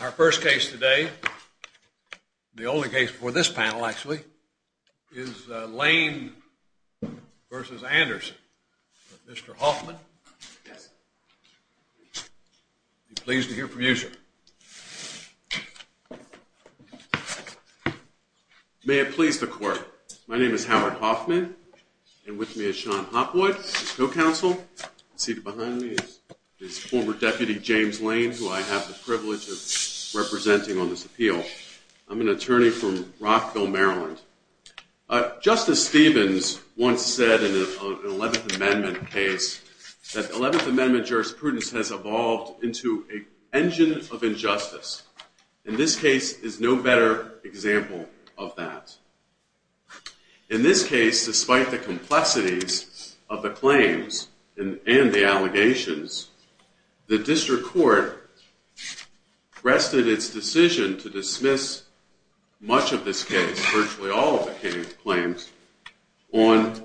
Our first case today, the only case for this panel actually, is Lane v. Anderson. Mr. Hoffman, I'd be pleased to hear from you, sir. May it please the Court. My name is Howard Hoffman, and with me is Sean Hopwood, Co-Counsel. Seated behind me is former Deputy James Lane, who I have the privilege of representing on this appeal. I'm an attorney from Rockville, Maryland. Justice Stevens once said in an 11th Amendment case that 11th Amendment jurisprudence has evolved into an engine of injustice, and this case is no better example of that. In this case, despite the complexities of the claims and the allegations, the District Court rested its decision to dismiss much of this case, virtually all of the claims, on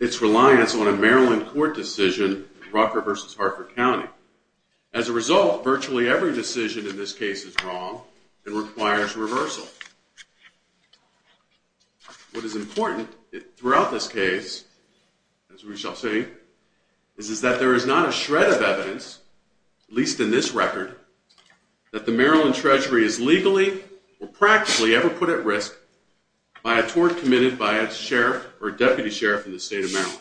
its reliance on a Maryland court decision, Rucker v. Hartford County. As a result, virtually every decision in this case is wrong and requires reversal. What is important throughout this case, as we shall see, is that there is not a shred of evidence, at least in this record, that the Maryland Treasury is legally or practically ever put at risk by a tort committed by a sheriff or deputy sheriff in the state of Maryland.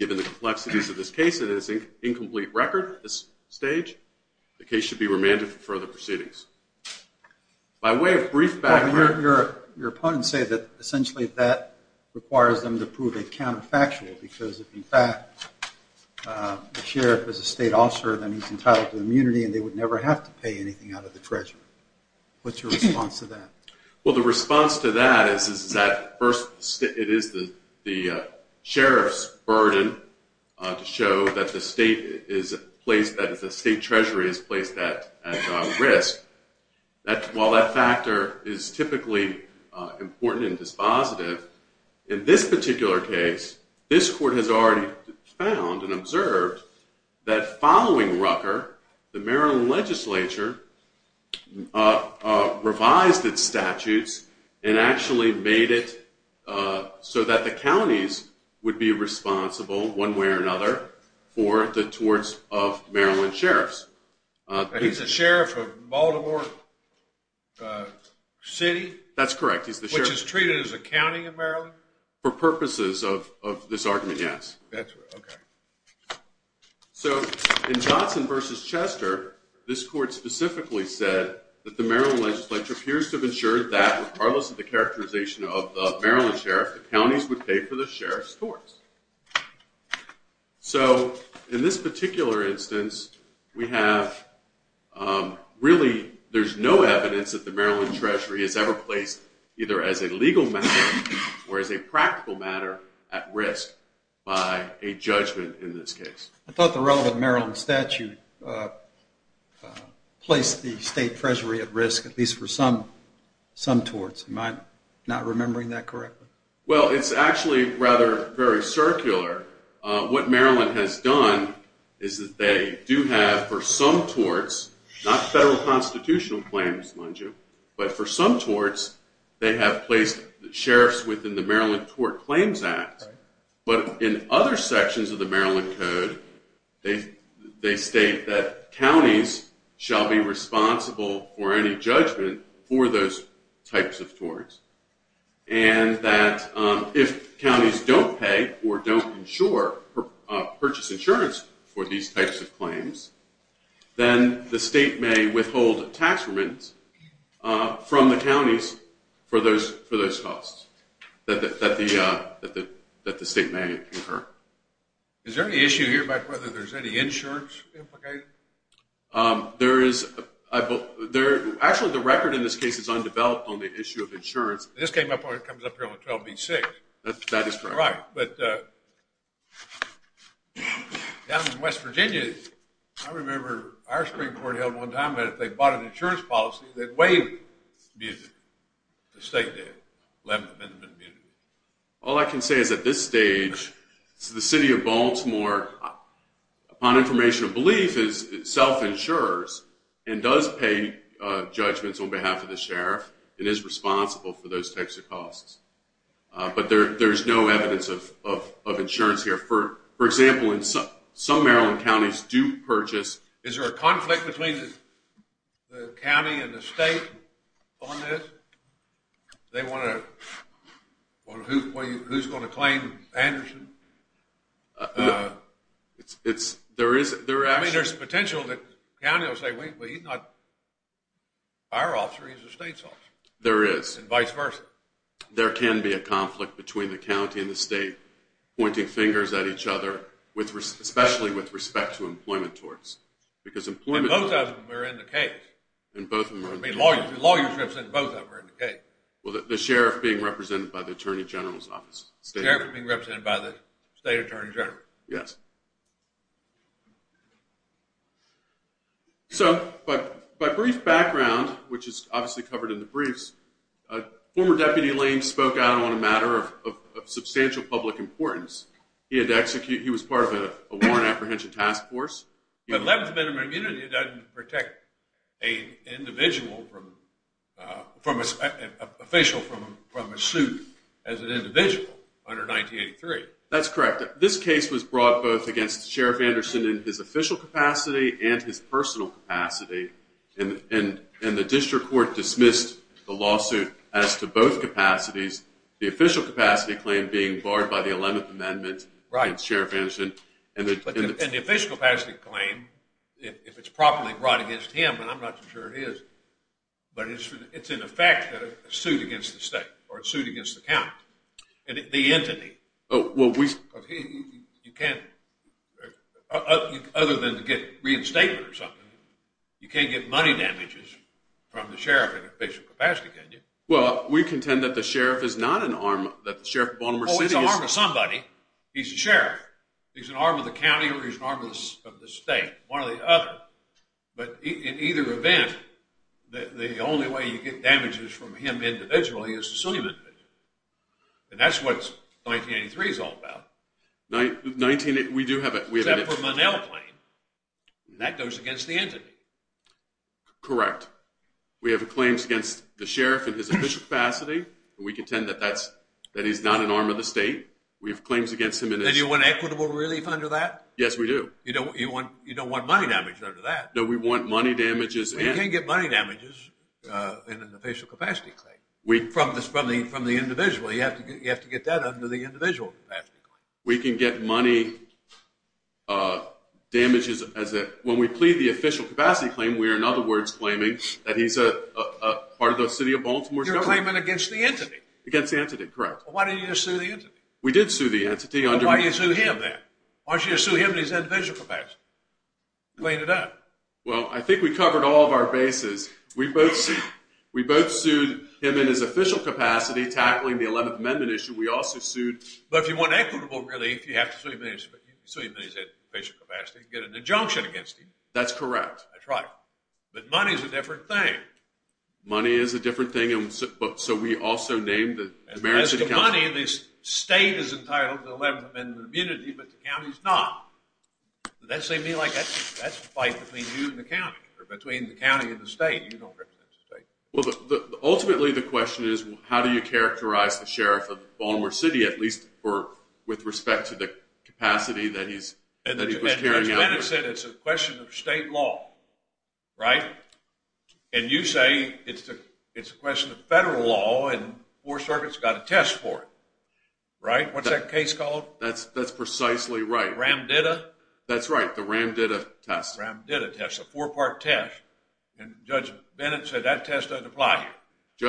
Given the complexities of this case and its incomplete record at this stage, the case should be remanded for further proceedings. By way of brief background... Your opponents say that essentially that requires them to prove it counterfactual, because if in fact the sheriff is a state officer, then he's entitled to immunity and they would never have to pay anything out of the Treasury. What's your response to that? Well, the response to that is that it is the sheriff's burden to show that the state treasury is placed at risk. While that factor is typically important and dispositive, in this particular case, this court has already found and observed that following Rucker, the Maryland legislature revised its statutes and actually made it so that the counties would be responsible, one way or another, for the torts of Maryland sheriffs. He's the sheriff of Baltimore City? That's correct. Which is treated as a county in Maryland? For purposes of this argument, yes. That's right. Okay. So, in Johnson v. Chester, this court specifically said that the Maryland legislature appears to have ensured that, regardless of the characterization of the Maryland sheriff, the counties would pay for the sheriff's torts. So, in this particular instance, there's no evidence that the Maryland treasury is ever placed either as a legal matter or as a practical matter at risk by a judgment in this case. I thought the relevant Maryland statute placed the state treasury at risk, at least for some torts. Am I not remembering that correctly? Well, it's actually rather very circular. What Maryland has done is that they do have, for some torts, not federal constitutional claims, but for some torts, they have placed sheriffs within the Maryland Tort Claims Act. But in other sections of the Maryland Code, they state that counties shall be responsible for any judgment for those types of torts. And that if counties don't pay or don't purchase insurance for these types of claims, then the state may withhold tax remit from the counties for those costs that the state may incur. Is there any issue here about whether there's any insurance implicated? There is. Actually, the record in this case is undeveloped on the issue of insurance. This comes up here on 12B-6. That is correct. Right. But down in West Virginia, I remember our Supreme Court held one time that if they bought an insurance policy, they'd waive immunity. The state did. All I can say is at this stage, the City of Baltimore, upon information of belief, self-insures and does pay judgments on behalf of the sheriff and is responsible for those types of costs. But there's no evidence of insurance here. For example, some Maryland counties do purchase. Is there a conflict between the county and the state on this? Who's going to claim Anderson? There is. I mean, there's potential that the county will say, well, he's not our officer, he's the state's officer. There is. And vice versa. There can be a conflict between the county and the state pointing fingers at each other, especially with respect to employment torts. And both of them are in the case. I mean, lawyers represent both of them are in the case. Well, the sheriff being represented by the Attorney General's office. The sheriff being represented by the State Attorney General. Yes. So, by brief background, which is obviously covered in the briefs, former Deputy Lane spoke out on a matter of substantial public importance. He was part of a warrant apprehension task force. But 11th Amendment immunity doesn't protect an official from a suit as an individual under 1983. That's correct. This case was brought both against Sheriff Anderson in his official capacity and his personal capacity. And the district court dismissed the lawsuit as to both capacities. The official capacity claim being barred by the 11th Amendment against Sheriff Anderson. And the official capacity claim, if it's properly brought against him, and I'm not too sure it is, but it's in effect a suit against the state or a suit against the county, the entity. Well, we... You can't, other than to get reinstatement or something, you can't get money damages from the sheriff in official capacity, can you? Well, we contend that the sheriff is not an arm, that the sheriff of Baltimore City is... He's an arm of the county or he's an arm of the state, one or the other. But in either event, the only way you get damages from him individually is to sue him individually. And that's what 1983 is all about. 19... we do have a... Except for Monell claim. That goes against the entity. Correct. We have claims against the sheriff in his official capacity. We contend that he's not an arm of the state. We have claims against him in his... Then you want equitable relief under that? Yes, we do. You don't want money damage under that? No, we want money damages and... Well, you can't get money damages in an official capacity claim from the individual. You have to get that under the individual capacity claim. We can get money damages as a... When we plead the official capacity claim, we are, in other words, claiming that he's a part of the city of Baltimore... You're claiming against the entity? Against the entity, correct. Well, why didn't you just sue the entity? We did sue the entity under... Well, why didn't you sue him then? Why didn't you just sue him in his individual capacity? Clean it up. Well, I think we covered all of our bases. We both sued him in his official capacity, tackling the 11th Amendment issue. We also sued... But if you want equitable relief, you have to sue him in his official capacity and get an injunction against him. That's correct. That's right. But money is a different thing. Money is a different thing, so we also named the... As to money, the state is entitled to the 11th Amendment immunity, but the county is not. Does that seem to be like... That's a fight between you and the county, or between the county and the state. You don't represent the state. Ultimately, the question is, how do you characterize the sheriff of Baltimore City, at least with respect to the capacity that he's carrying out? Judge Bennett said it's a question of state law, right? And you say it's a question of federal law, and the 4th Circuit's got a test for it, right? What's that case called? That's precisely right. Ramdita? That's right. The Ramdita test. Ramdita test. A four-part test. And Judge Bennett said that test doesn't apply here.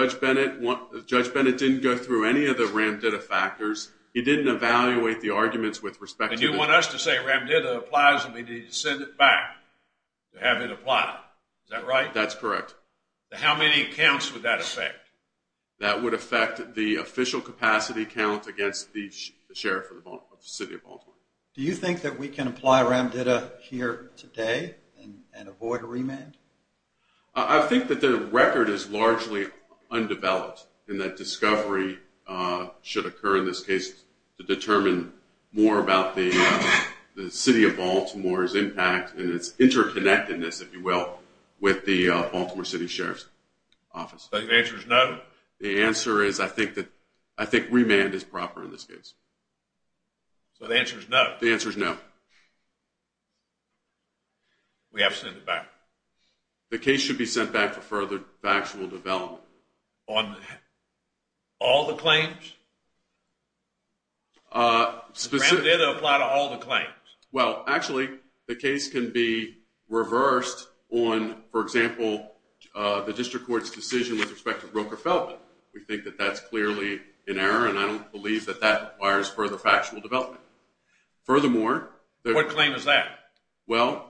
Judge Bennett didn't go through any of the Ramdita factors. He didn't evaluate the arguments with respect to... And you want us to say Ramdita applies, and we need to send it back to have it applied. Is that right? That's correct. How many counts would that affect? That would affect the official capacity count against the sheriff of the city of Baltimore. Do you think that we can apply Ramdita here today, and avoid a remand? I think that the record is largely undeveloped, and that discovery should occur in this case to determine more about the city of Baltimore's impact and its interconnectedness, if you will, with the Baltimore City Sheriff's Office. So the answer is no? The answer is I think remand is proper in this case. So the answer is no? The answer is no. We have to send it back. The case should be sent back for further factual development. On all the claims? Ramdita apply to all the claims? Well, actually, the case can be reversed on, for example, the district court's decision with respect to Roker Feldman. We think that that's clearly in error, and I don't believe that that requires further factual development. Furthermore... What claim is that? Well,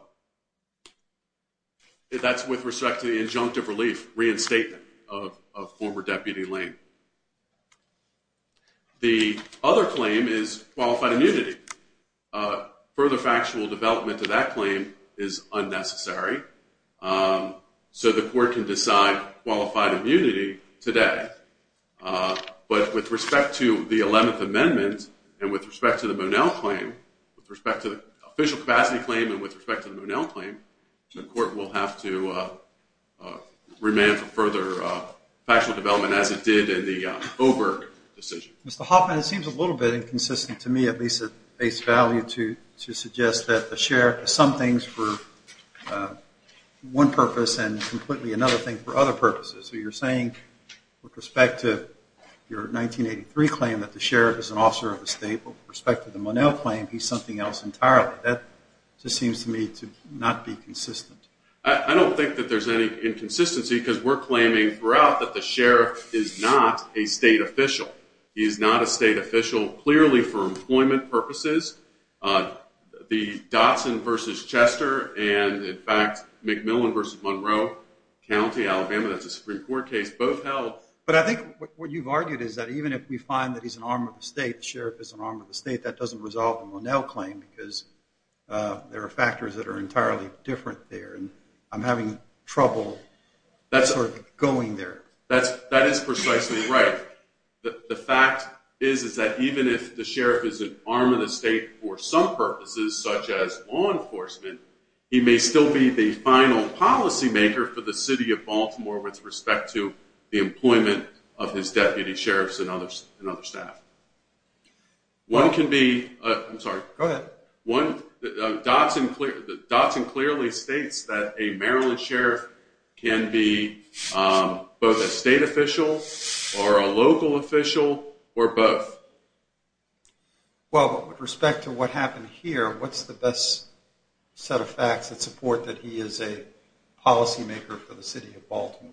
that's with respect to the injunctive relief, reinstatement of former Deputy Lane. The other claim is qualified immunity. Further factual development to that claim is unnecessary. So the court can decide qualified immunity today. But with respect to the 11th Amendment and with respect to the Monel claim, with respect to the official capacity claim and with respect to the Monel claim, the court will have to remand for further factual development as it did in the Oberg decision. Mr. Hoffman, it seems a little bit inconsistent to me, at least at face value, to suggest that the sheriff has some things for one purpose and completely another thing for other purposes. So you're saying, with respect to your 1983 claim that the sheriff is an officer of the state, but with respect to the Monel claim, he's something else entirely. That just seems to me to not be consistent. I don't think that there's any inconsistency, because we're claiming throughout that the sheriff is not a state official. He is not a state official, clearly for employment purposes. The Dotson v. Chester and, in fact, McMillan v. Monroe County, Alabama, that's a Supreme Court case, both held... But I think what you've argued is that even if we find that he's an arm of the state, the sheriff is an arm of the state, that doesn't resolve the Monel claim, because there are factors that are entirely different there, and I'm having trouble going there. That is precisely right. The fact is that even if the sheriff is an arm of the state for some purposes, such as law enforcement, he may still be the final policymaker for the city of Baltimore with respect to the employment of his deputy sheriffs and other staff. One can be... I'm sorry. Go ahead. Dotson clearly states that a Maryland sheriff can be both a state official or a local official, or both. Well, with respect to what happened here, what's the best set of facts that support that he is a policymaker for the city of Baltimore?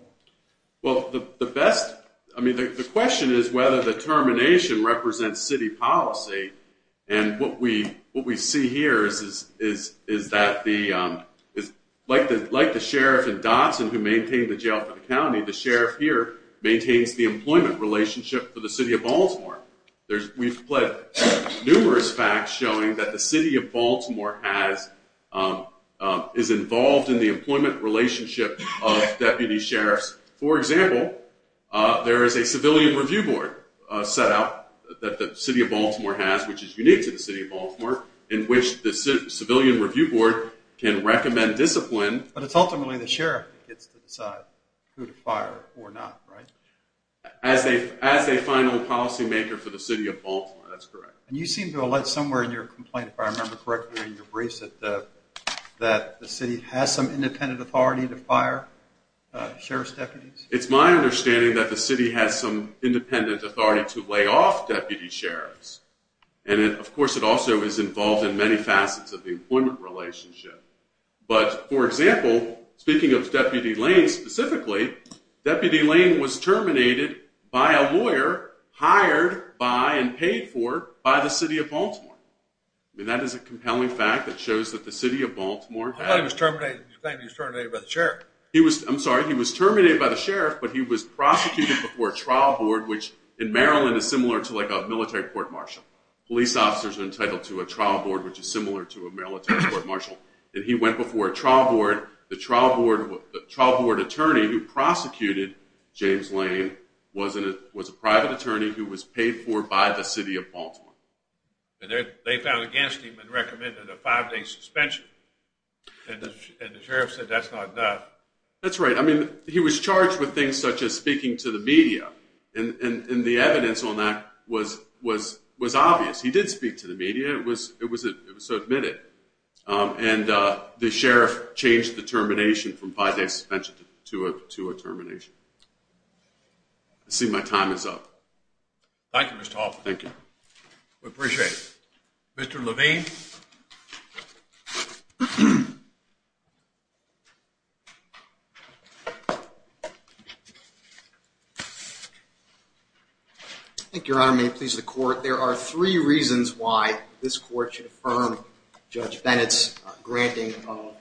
Well, the question is whether the termination represents city policy, and what we see here is that, like the sheriff in Dotson who maintained the jail for the county, the sheriff here maintains the employment relationship for the city of Baltimore. We've had numerous facts showing that the city of Baltimore is involved in the employment relationship of deputy sheriffs. For example, there is a civilian review board set up that the city of Baltimore has, which is unique to the city of Baltimore, in which the civilian review board can recommend discipline... But it's ultimately the sheriff who gets to decide who to fire or not, right? As a final policymaker for the city of Baltimore, that's correct. And you seem to allege somewhere in your complaint, if I remember correctly in your briefs, that the city has some independent authority to fire sheriff's deputies. It's my understanding that the city has some independent authority to lay off deputy sheriffs, and of course it also is involved in many facets of the employment relationship. But for example, speaking of Deputy Lane specifically, Deputy Lane was terminated by a lawyer, hired by and paid for by the city of Baltimore. That is a compelling fact that shows that the city of Baltimore has... I thought he was terminated by the sheriff. I'm sorry, he was terminated by the sheriff, but he was prosecuted before a trial board, which in Maryland is similar to a military court-martial. Police officers are entitled to a trial board, which is similar to a military court-martial, and he went before a trial board. The trial board attorney who prosecuted James Lane was a private attorney who was paid for by the city of Baltimore. And they found against him and recommended a five-day suspension, and the sheriff said that's not enough. That's right. I mean, he was charged with things such as speaking to the media. And the evidence on that was obvious. He did speak to the media. It was so admitted. And the sheriff changed the termination from five-day suspension to a termination. I see my time is up. Thank you, Mr. Hoffman. We appreciate it. Mr. Levine. Thank you, Your Honor. May it please the court. There are three reasons why this court should affirm Judge Bennett's granting of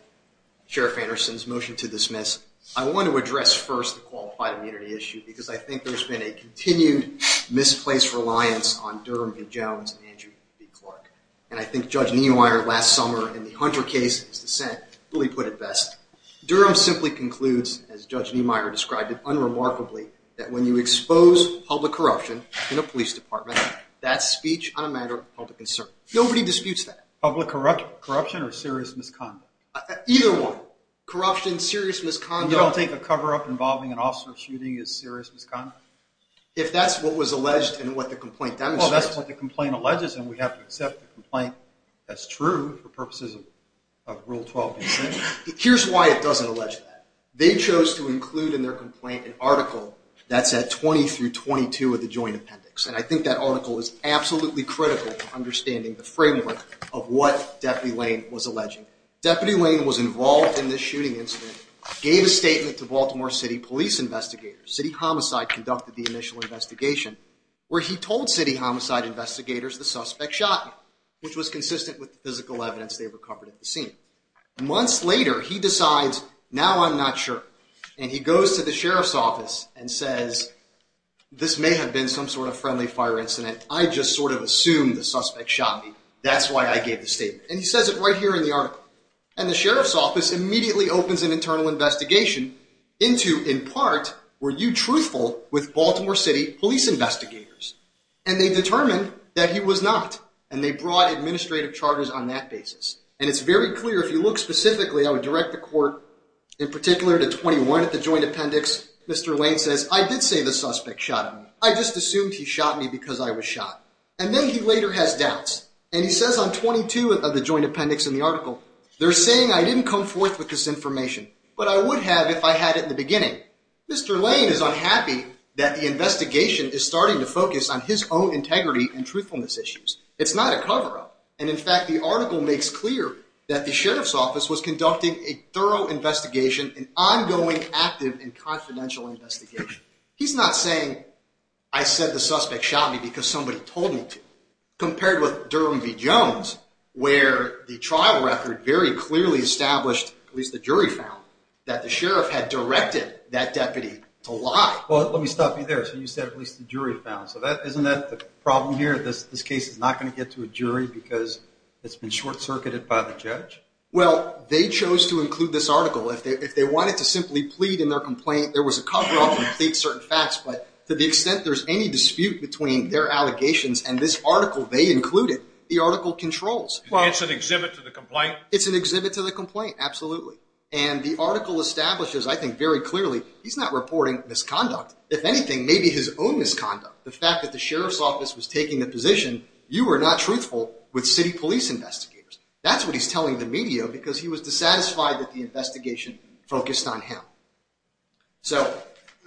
Sheriff Anderson's motion to dismiss. I want to address first the qualified immunity issue, because I think there's been a continued misplaced reliance on Durham v. Jones and Andrew v. Clark. And I think Judge Niemeyer last summer in the Hunter case, his dissent, really put it best. Durham simply concludes, as Judge Niemeyer described it unremarkably, that when you expose public corruption in a police department, that's speech on a matter of public concern. Nobody disputes that. Public corruption or serious misconduct? Either one. Corruption, serious misconduct. You don't think a cover-up involving an officer shooting is serious misconduct? If that's what was alleged and what the complaint demonstrates. Well, that's what the complaint alleges, and we have to accept the complaint as true for purposes of Rule 12. Here's why it doesn't allege that. They chose to include in their complaint an article that said 20 through 22 of the Joint Appendix. And I think that article is absolutely critical to understanding the framework of what Deputy Lane was alleging. Deputy Lane was involved in this shooting incident, gave a statement to Baltimore City police investigators. City Homicide conducted the initial investigation, where he told City Homicide investigators the suspect shot him, which was consistent with the physical evidence they recovered at the scene. Months later, he decides, now I'm not sure. And he goes to the Sheriff's Office and says, this may have been some sort of friendly fire incident. I just sort of assumed the suspect shot me. That's why I gave the statement. And he says it right here in the article. And the Sheriff's Office immediately opens an internal investigation into, in part, were you truthful with Baltimore City police investigators? And they determined that he was not. And they brought administrative charters on that basis. And it's very clear, if you look specifically, I would direct the court in particular to 21 at the Joint Appendix. Mr. Lane says, I did say the suspect shot him. I just assumed he shot me because I was shot. And then he later has doubts. And he says on 22 of the Joint Appendix in the article, they're saying I didn't come forth with this information. But I would have if I had it in the beginning. Mr. Lane is unhappy that the investigation is starting to focus on his own integrity and truthfulness issues. It's not a cover-up. And in fact, the article makes clear that the Sheriff's Office was conducting a thorough investigation, an ongoing, active, and confidential investigation. He's not saying, I said the suspect shot me because somebody told me to. Compared with Durham v. Jones, where the trial record very clearly established, at least the jury found, that the Sheriff had directed that deputy to lie. Well, let me stop you there. So you said, at least the jury found. So isn't that the problem here? This case is not going to get to a jury because it's been short-circuited by the judge? Well, they chose to include this article. If they wanted to simply plead in their complaint, there was a cover-up and plead certain facts. But to the extent there's any dispute between their allegations and this article they included, the article controls. It's an exhibit to the complaint? It's an exhibit to the complaint, absolutely. And the article establishes, I think very clearly, he's not reporting misconduct. If anything, maybe his own misconduct. The fact that the Sheriff's office was taking the position, you were not truthful with city police investigators. That's what he's telling the media because he was dissatisfied that the investigation focused on him. So,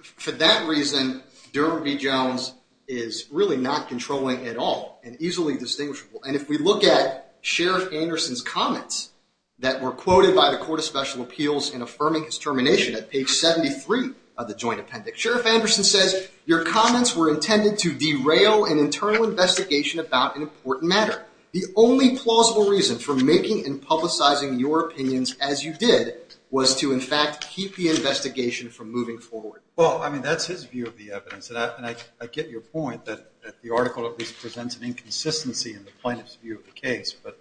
for that reason, Durham v. Jones is really not controlling at all and easily distinguishable. And if we look at Sheriff Anderson's comments that were quoted by the Court of Special Appeals in affirming his termination at page 73 of the joint appendix. He says, your comments were intended to derail an internal investigation about an important matter. The only plausible reason for making and publicizing your opinions as you did was to, in fact, keep the investigation from moving forward. Well, I mean, that's his view of the evidence. And I get your point that the article at least presents an inconsistency in the plaintiff's view of the case. But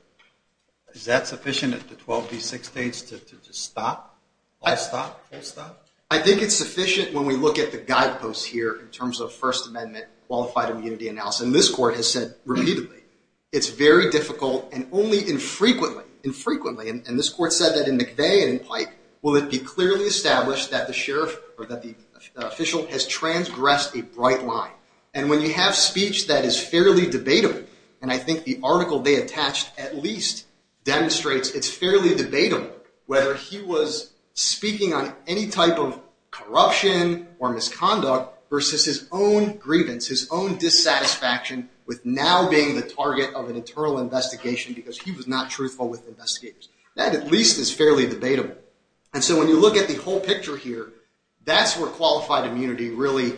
is that sufficient at the 12 v. 6 stage to just stop? All stop? Full stop? I think it's sufficient when we look at the guideposts here in terms of First Amendment qualified immunity analysis. And this court has said repeatedly, it's very difficult and only infrequently, infrequently. And this court said that in McVeigh and in Pike will it be clearly established that the sheriff or that the official has transgressed a bright line. And when you have speech that is fairly debatable, and I think the article they attached at least demonstrates it's fairly debatable. Whether he was speaking on any type of corruption or misconduct versus his own grievance, his own dissatisfaction with now being the target of an internal investigation because he was not truthful with investigators. That at least is fairly debatable. And so when you look at the whole picture here, that's where qualified immunity really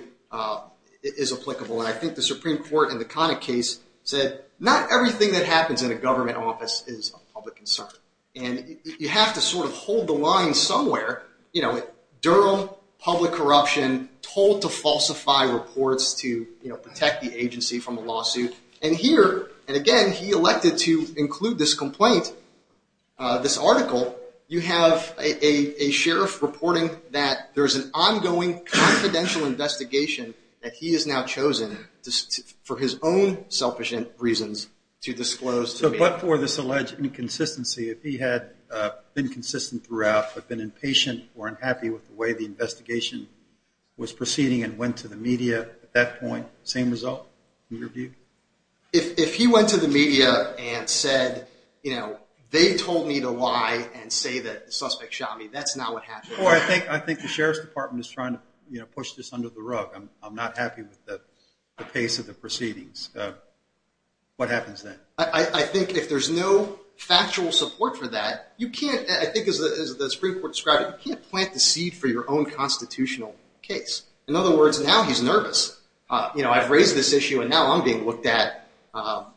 is applicable. And I think the Supreme Court in the Connick case said not everything that happens in a government office is of public concern. And you have to sort of hold the line somewhere. Durham, public corruption, told to falsify reports to protect the agency from a lawsuit. And here, and again, he elected to include this complaint, this article. You have a sheriff reporting that there's an ongoing confidential investigation that he has now chosen for his own selfish reasons to disclose. But for this alleged inconsistency, if he had been consistent throughout but been impatient or unhappy with the way the investigation was proceeding and went to the media at that point, same result? If he went to the media and said, you know, they told me to lie and say that the suspect shot me, that's not what happened. I think the Sheriff's Department is trying to push this under the rug. I'm not happy with the pace of the proceedings. What happens then? And I think if there's no factual support for that, you can't, I think as the Supreme Court described it, you can't plant the seed for your own constitutional case. In other words, now he's nervous. You know, I've raised this issue and now I'm being looked at.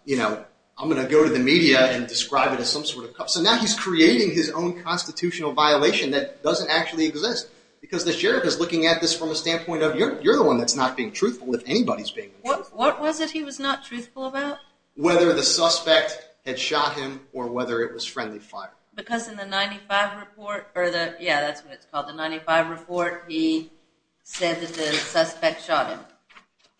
You know, I'm going to go to the media and describe it as some sort of... So now he's creating his own constitutional violation that doesn't actually exist. Because the sheriff is looking at this from a standpoint of, you're the one that's not being truthful if anybody's being truthful. What was it he was not truthful about? Whether the suspect had shot him or whether it was friendly fire. Because in the 95 report, or the, yeah, that's what it's called, the 95 report, he said that the suspect shot him.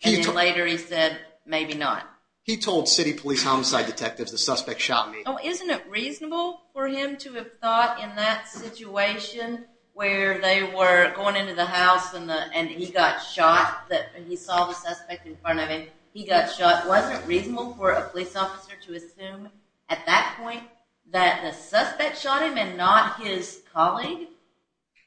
And then later he said, maybe not. He told city police homicide detectives the suspect shot me. Oh, isn't it reasonable for him to have thought in that situation where they were going into the house and he got shot, that he saw the suspect in front of him, he got shot. But wasn't it reasonable for a police officer to assume at that point that the suspect shot him and not his colleague?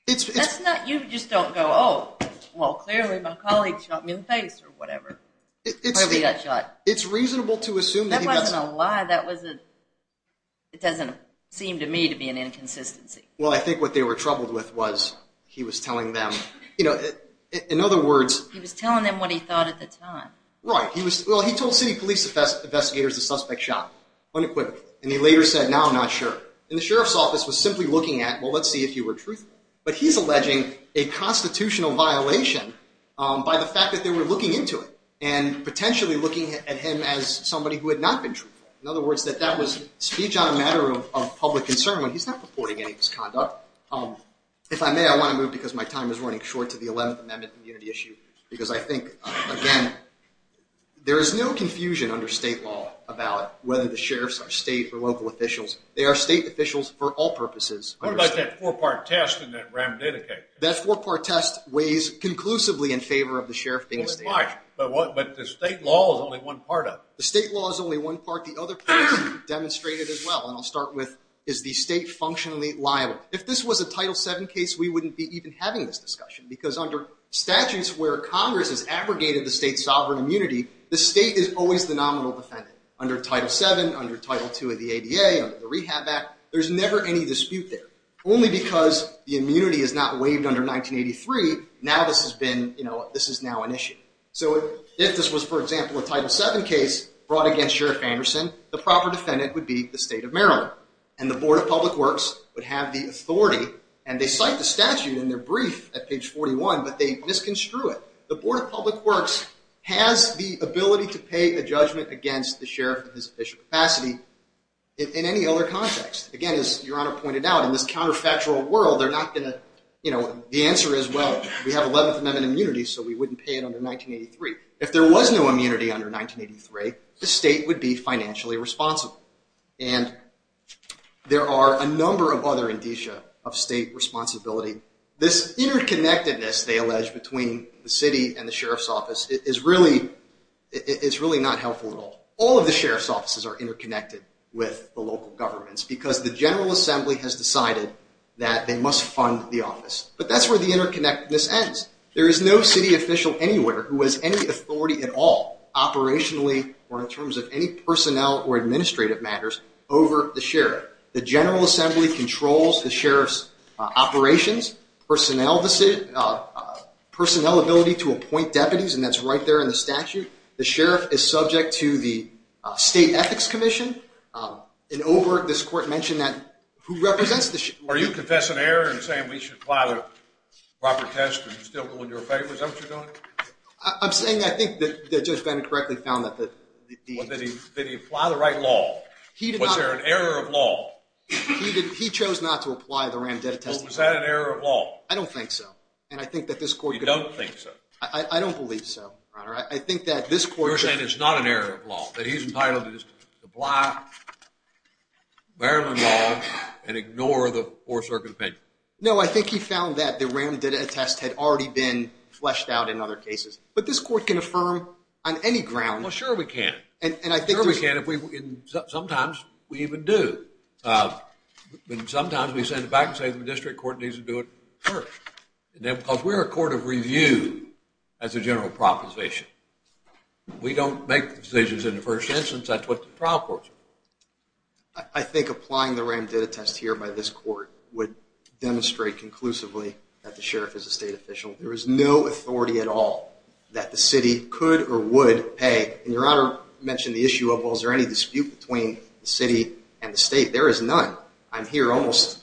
That's not, you just don't go, oh, well clearly my colleague shot me in the face or whatever. It's reasonable to assume that he got shot. That wasn't a lie, that wasn't, it doesn't seem to me to be an inconsistency. Well, I think what they were troubled with was he was telling them, you know, in other words... He was telling them what he thought at the time. Right. Well, he told city police investigators the suspect shot him unequivocally. And he later said, now I'm not sure. And the sheriff's office was simply looking at, well, let's see if you were truthful. But he's alleging a constitutional violation by the fact that they were looking into it and potentially looking at him as somebody who had not been truthful. In other words, that that was speech on a matter of public concern when he's not purporting any misconduct. If I may, I want to move because my time is running short to the 11th Amendment community issue. Because I think, again, there is no confusion under state law about whether the sheriffs are state or local officials. They are state officials for all purposes. What about that four-part test in that rammed indicate? That four-part test weighs conclusively in favor of the sheriff being a state officer. But the state law is only one part of it. The state law is only one part. The other part is demonstrated as well. And I'll start with, is the state functionally liable? If this was a Title VII case, we wouldn't be even having this discussion. Because under statutes where Congress has abrogated the state's sovereign immunity, the state is always the nominal defendant. Under Title VII, under Title II of the ADA, under the Rehab Act, there's never any dispute there. Only because the immunity is not waived under 1983, now this has been, you know, this is now an issue. So if this was, for example, a Title VII case brought against Sheriff Anderson, the proper defendant would be the state of Maryland. And the Board of Public Works would have the authority, and they cite the statute in their brief at page 41, but they misconstrue it. The Board of Public Works has the ability to pay a judgment against the sheriff in his official capacity in any other context. Again, as Your Honor pointed out, in this counterfactual world, they're not going to, you know, the answer is, well, we have 11th Amendment immunity, so we wouldn't pay it under 1983. If there was no immunity under 1983, the state would be financially responsible. And there are a number of other indicia of state responsibility. This interconnectedness, they allege, between the city and the sheriff's office is really not helpful at all. All of the sheriff's offices are interconnected with the local governments because the General Assembly has decided that they must fund the office. But that's where the interconnectedness ends. There is no city official anywhere who has any authority at all, operationally or in terms of any personnel or administrative matters, over the sheriff. The General Assembly controls the sheriff's operations, personnel ability to appoint deputies, and that's right there in the statute. The sheriff is subject to the State Ethics Commission. In Oberg, this court mentioned that who represents the sheriff. Are you confessing error and saying we should apply the proper test and still go in your favor? Is that what you're doing? I'm saying I think that Judge Bennett correctly found that the... Did he apply the right law? Was there an error of law? He chose not to apply the randedit test. Well, was that an error of law? I don't think so. And I think that this court... You don't think so? I don't believe so, Your Honor. I think that this court... We were saying it's not an error of law, that he's entitled to just apply Maryland law and ignore the Fourth Circuit opinion. No, I think he found that the randedit test had already been fleshed out in other cases. But this court can affirm on any ground... Well, sure we can. Sure we can if we... Sometimes we even do. But sometimes we send it back and say the district court needs to do it first. Because we're a court of review as a general proposition. We don't make decisions in the first instance. That's what the trial courts are for. I think applying the randedit test here by this court would demonstrate conclusively that the sheriff is a state official. There is no authority at all that the city could or would pay. And Your Honor mentioned the issue of, well, is there any dispute between the city and the state? There is none. I'm here almost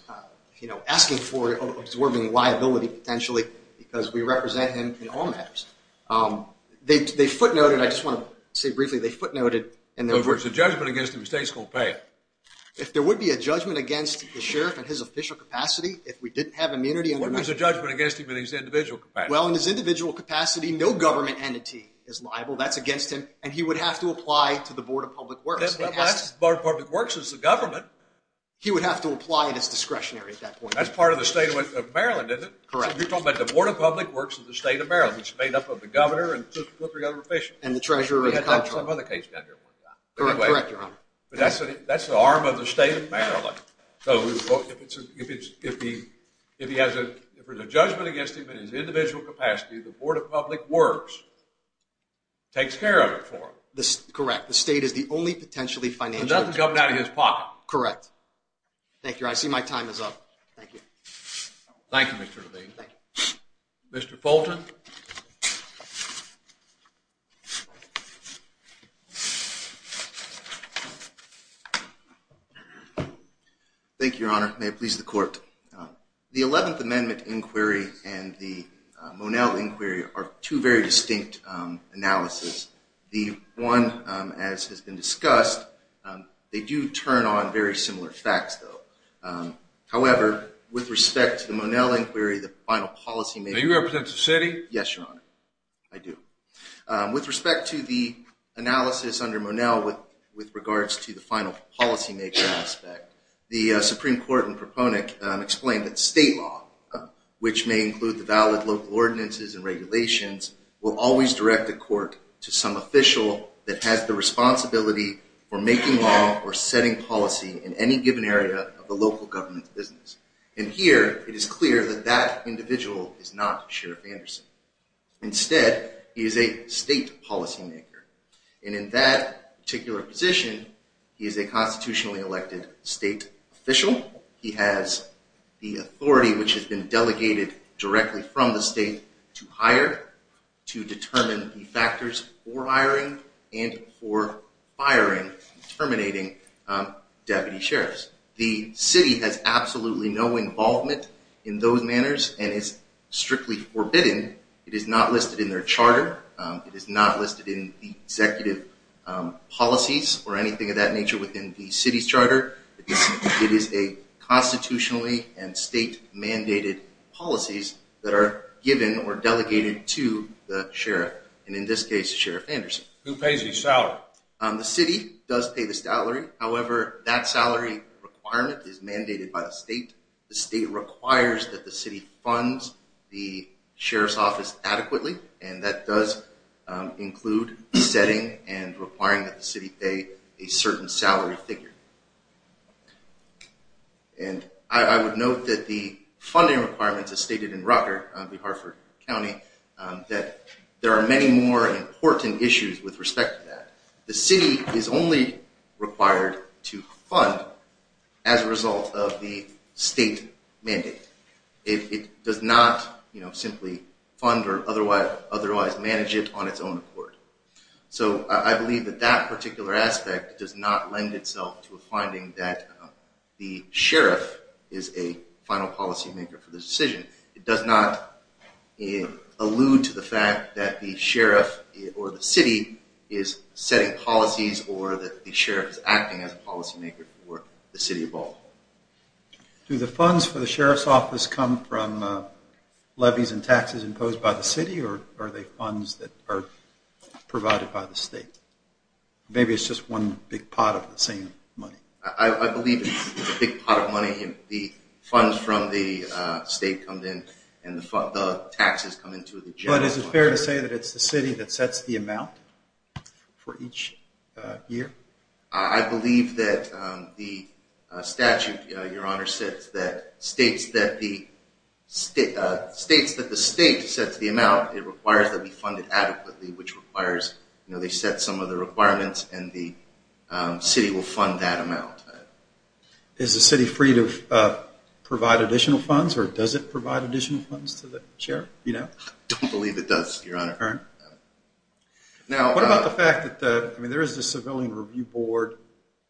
asking for or absorbing liability potentially because we represent him in all matters. They footnoted, I just want to say briefly, they footnoted... If there's a judgment against him, the state's going to pay him. If there would be a judgment against the sheriff in his official capacity, if we didn't have immunity... What is the judgment against him in his individual capacity? Well, in his individual capacity, no government entity is liable. That's against him. And he would have to apply to the Board of Public Works. The Board of Public Works is the government. He would have to apply at its discretionary at that point. That's part of the state of Maryland, isn't it? Correct. So you're talking about the Board of Public Works of the state of Maryland. It's made up of the governor and two or three other officials. And the treasurer and the comptroller. Correct, Your Honor. But that's the arm of the state of Maryland. So if there's a judgment against him in his individual capacity, the Board of Public Works takes care of it for him. Correct. The state is the only potentially financial... So nothing's coming out of his pocket. Correct. Thank you. I see my time is up. Thank you. Thank you, Mr. Levine. Mr. Fulton. Thank you, Your Honor. May it please the Court. The Eleventh Amendment Inquiry and the Monell Inquiry are two very distinct analyses. The one, as has been discussed, they do turn on very similar facts, though. However, with respect to the Monell Inquiry, the final policymaker... Are you a representative of the city? Yes, Your Honor. I do. With respect to the analysis under Monell with regards to the final policymaker aspect, the Supreme Court and proponent explained that state law, which may include the valid local ordinances and regulations, will always direct the court to some official that has the responsibility for making law or setting policy in any given area of the local government's business. And here, it is clear that that individual is not Sheriff Anderson. Instead, he is a state policymaker. And in that particular position, he is a constitutionally elected state official. He has the authority, which has been delegated directly from the state to hire, to determine the factors for hiring and for firing, terminating deputy sheriffs. The city has absolutely no involvement in those manners and is strictly forbidden. It is not listed in their charter. It is not listed in the executive policies or anything of that nature within the city's charter. It is a constitutionally and state-mandated policies that are given or delegated to the sheriff, and in this case, Sheriff Anderson. Who pays his salary? The city does pay the salary. However, that salary requirement is mandated by the state. The state requires that the city funds the sheriff's office adequately, and that does include setting and requiring that the city pay a certain salary figure. And I would note that the funding requirements as stated in Rutger, the Hartford County, that there are many more important issues with respect to that. The city is only required to fund as a result of the state mandate. It does not simply fund or otherwise manage it on its own accord. So I believe that that particular aspect does not lend itself to a finding that the sheriff is a final policymaker for the decision. It does not allude to the fact that the sheriff or the city is setting policies or that the sheriff is acting as a policymaker for the city of Baltimore. Do the funds for the sheriff's office come from levies and taxes imposed by the city, or are they funds that are provided by the state? Maybe it's just one big pot of the same money. I believe it's a big pot of money. The funds from the state come in, and the taxes come into the general fund. But is it fair to say that it's the city that sets the amount for each year? I believe that the statute, Your Honor, states that the state sets the amount. It requires that it be funded adequately, which requires they set some of the requirements, and the city will fund that amount. Is the city free to provide additional funds, or does it provide additional funds to the sheriff? I don't believe it does, Your Honor. What about the fact that there is a Civilian Review Board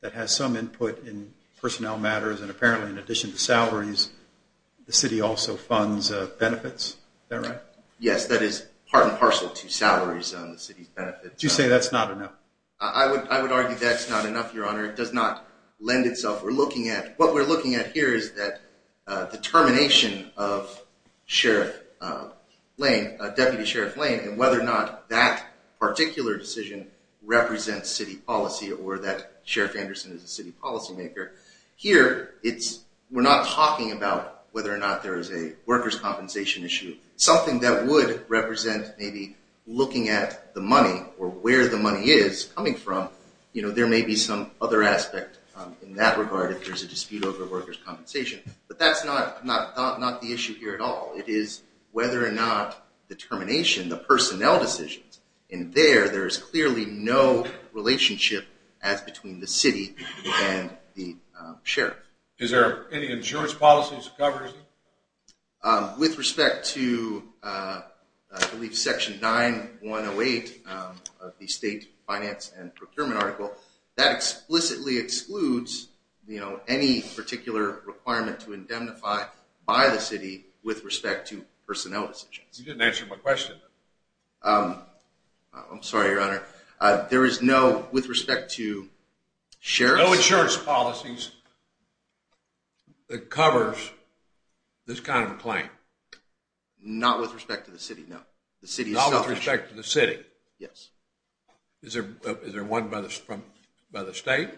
that has some input in personnel matters, and apparently in addition to salaries, the city also funds benefits. Is that right? Yes, that is part and parcel to salaries on the city's benefits. Would you say that's not enough? I would argue that's not enough, Your Honor. It does not lend itself. What we're looking at here is the termination of Deputy Sheriff Lane, and whether or not that particular decision represents city policy, or that Sheriff Anderson is a city policy maker. Here, we're not talking about whether or not there is a workers' compensation issue. Something that would represent maybe looking at the money, or where the money is coming from, there may be some other aspect in that regard if there's a dispute over workers' compensation. But that's not the issue here at all. It is whether or not the termination, the personnel decisions, in there, there is clearly no relationship as between the city and the sheriff. Is there any insurance policies that covers it? With respect to Section 9108 of the State Finance and Procurement Article, that explicitly excludes any particular requirement to indemnify by the city with respect to personnel decisions. You didn't answer my question. I'm sorry, Your Honor. There is no, with respect to sheriff's... Not with respect to the city, no. Not with respect to the city? Yes. Is there one by the state?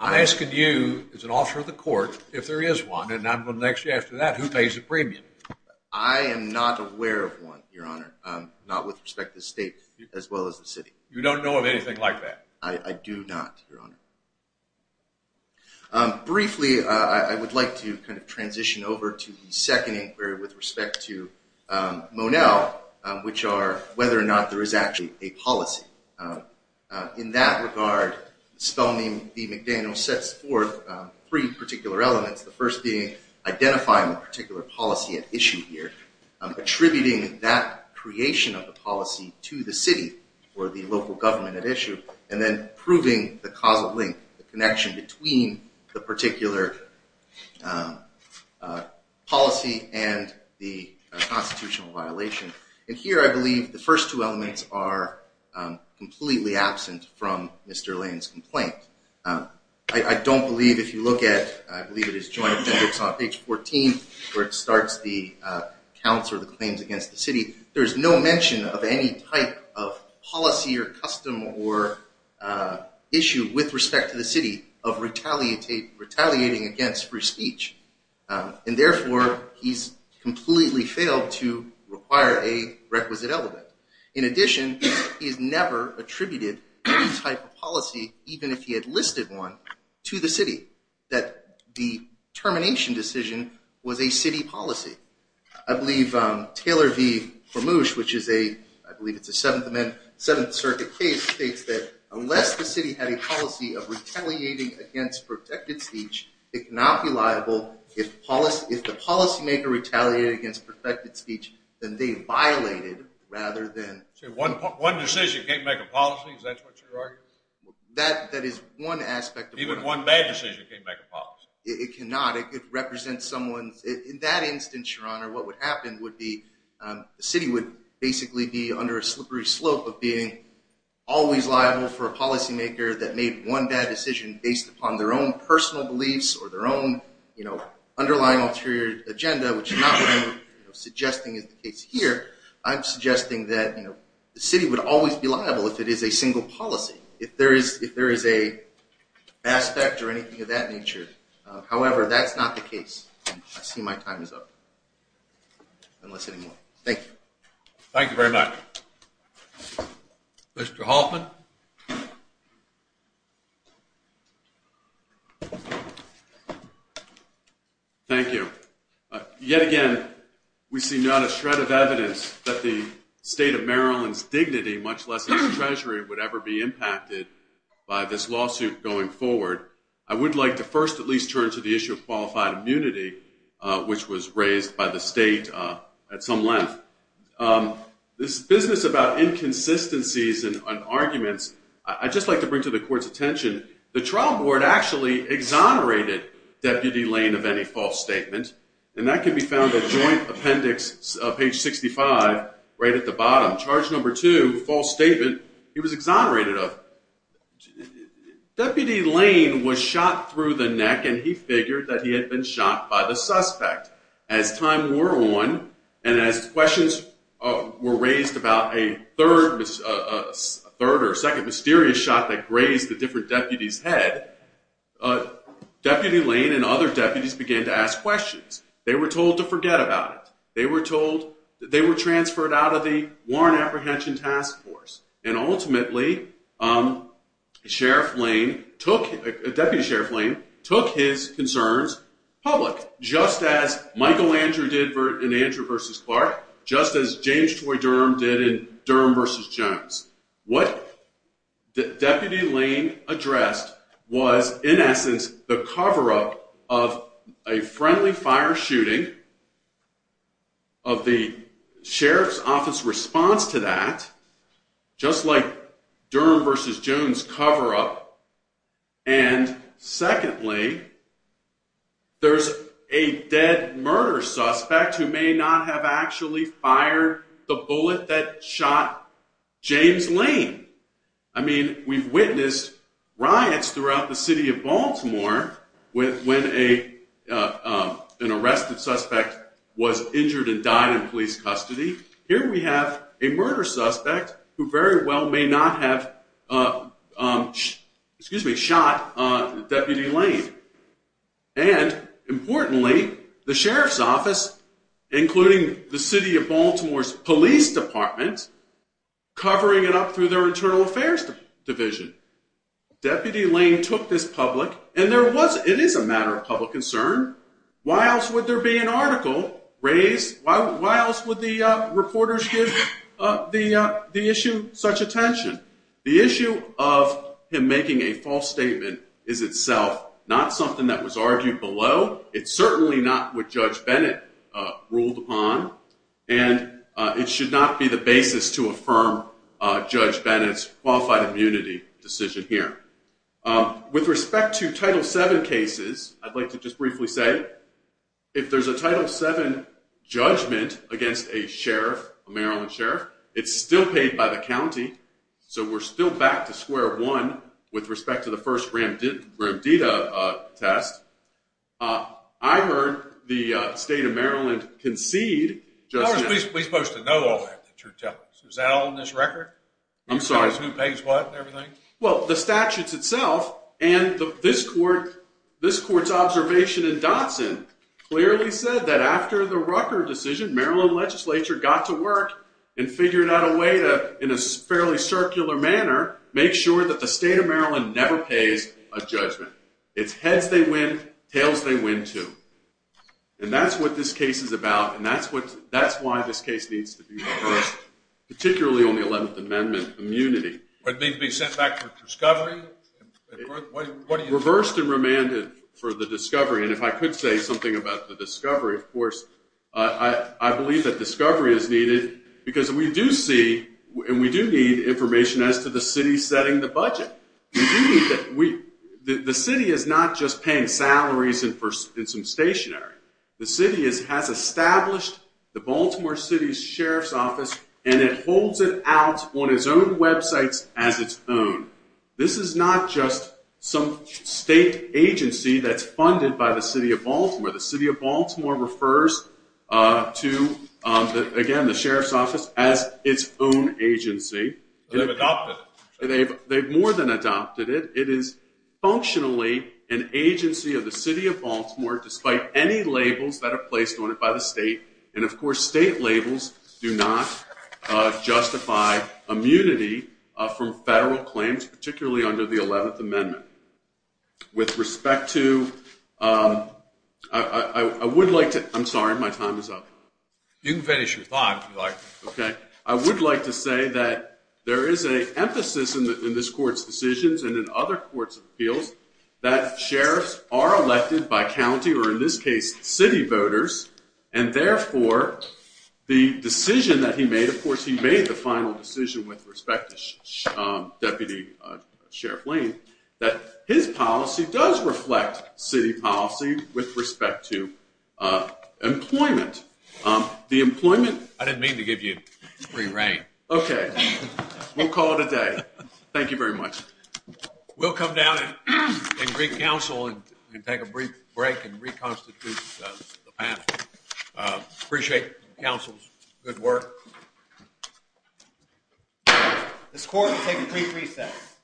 I'm asking you, as an officer of the court, if there is one, and I'm going to ask you after that, who pays the premium? I am not aware of one, Your Honor. Not with respect to the state, as well as the city. You don't know of anything like that? I do not, Your Honor. Briefly, I would like to kind of transition over to the second inquiry with respect to Monell, which are whether or not there is actually a policy. In that regard, Spelman v. McDaniel sets forth three particular elements, the first being identifying the particular policy at issue here, attributing that creation of the policy to the city or the local government at issue, and then proving the causal link, the connection between the particular policy and the constitutional violation. And here, I believe the first two elements are completely absent from Mr. Lane's complaint. I don't believe, if you look at, I believe it is joint appendix on page 14, where it starts the counts or the claims against the city, there is no mention of any type of policy or custom or issue with respect to the city of retaliating against free speech. And therefore, he's completely failed to require a requisite element. In addition, he's never attributed any type of policy, even if he had listed one, to the city, that the termination decision was a city policy. I believe Taylor v. Vermoosh, which is a, I believe it's a Seventh Amendment, Seventh Circuit case, states that unless the city had a policy of retaliating against protected speech, it cannot be liable if the policymaker retaliated against protected speech that they violated rather than… So one decision can't make a policy? Is that what you're arguing? That is one aspect of one… Even one bad decision can't make a policy? It cannot. It could represent someone's… In that instance, Your Honor, what would happen would be the city would basically be under a slippery slope of being always liable for a policymaker that made one bad decision based upon their own personal beliefs or their own underlying ulterior agenda, which is not what I'm suggesting is the case here. I'm suggesting that the city would always be liable if it is a single policy, if there is an aspect or anything of that nature. However, that's not the case. I see my time is up. Thank you. Thank you very much. Mr. Hoffman? Thank you. Yet again, we see not a shred of evidence that the state of Maryland's dignity, much less its treasury, would ever be impacted by this lawsuit going forward. I would like to first at least turn to the issue of qualified immunity, which was raised by the state at some length. This business about inconsistencies and arguments, I'd just like to bring to the court's attention, the trial board actually exonerated Deputy Lane of any false statement. And that can be found at Joint Appendix, page 65, right at the bottom. Charge number two, false statement, he was exonerated of. Deputy Lane was shot through the neck, and he figured that he had been shot by the suspect. As time wore on, and as questions were raised about a third or second mysterious shot that grazed the different deputies' head, Deputy Lane and other deputies began to ask questions. They were told to forget about it. They were transferred out of the Warrant Apprehension Task Force. And ultimately, Deputy Sheriff Lane took his concerns public, just as Michael Andrew did in Andrew v. Clark, just as James Troy Durham did in Durham v. Jones. What Deputy Lane addressed was, in essence, the cover-up of a friendly fire shooting, of the Sheriff's Office response to that, just like Durham v. Jones' cover-up. And secondly, there's a dead murder suspect who may not have actually fired the bullet that shot James Lane. I mean, we've witnessed riots throughout the city of Baltimore when an arrested suspect was injured and died in police custody. Here we have a murder suspect who very well may not have shot Deputy Lane. And importantly, the Sheriff's Office, including the City of Baltimore's Police Department, covering it up through their Internal Affairs Division. Deputy Lane took this public, and it is a matter of public concern. Why else would there be an article raised? Why else would the reporters give the issue such attention? The issue of him making a false statement is itself not something that was argued below. It's certainly not what Judge Bennett ruled upon. And it should not be the basis to affirm Judge Bennett's qualified immunity decision here. With respect to Title VII cases, I'd like to just briefly say, if there's a Title VII judgment against a Sheriff, a Maryland Sheriff, it's still paid by the county. So we're still back to square one with respect to the first Ramdeda test. I heard the state of Maryland concede. We're supposed to know all that. Is that all in this record? I'm sorry. Who pays what and everything? Well, the statutes itself and this court's observation in Dotson clearly said that after the Rucker decision, Maryland legislature got to work and figured out a way to, in a fairly circular manner, make sure that the state of Maryland never pays a judgment. It's heads they win, tails they win, too. And that's what this case is about, and that's why this case needs to be reversed, particularly on the Eleventh Amendment immunity. What do you mean, be sent back for discovery? Reversed and remanded for the discovery. And if I could say something about the discovery, of course, I believe that discovery is needed because we do see and we do need information as to the city setting the budget. The city is not just paying salaries and some stationery. The city has established the Baltimore City Sheriff's Office and it holds it out on its own websites as its own. This is not just some state agency that's funded by the city of Baltimore. The city of Baltimore refers to, again, the Sheriff's Office as its own agency. They've adopted it. They've more than adopted it. It is functionally an agency of the city of Baltimore, despite any labels that are placed on it by the state. And, of course, state labels do not justify immunity from federal claims, particularly under the Eleventh Amendment. With respect to, I would like to, I'm sorry, my time is up. I would like to say that there is an emphasis in this court's decisions and in other courts' appeals that sheriffs are elected by county or, in this case, city voters. And, therefore, the decision that he made, of course, he made the final decision with respect to Deputy Sheriff Lane, that his policy does reflect city policy with respect to employment. The employment... I didn't mean to give you a free rein. Okay. We'll call it a day. Thank you very much. We'll come down and greet counsel and take a brief break and reconstitute the panel. Appreciate counsel's good work. This court will take a brief recess.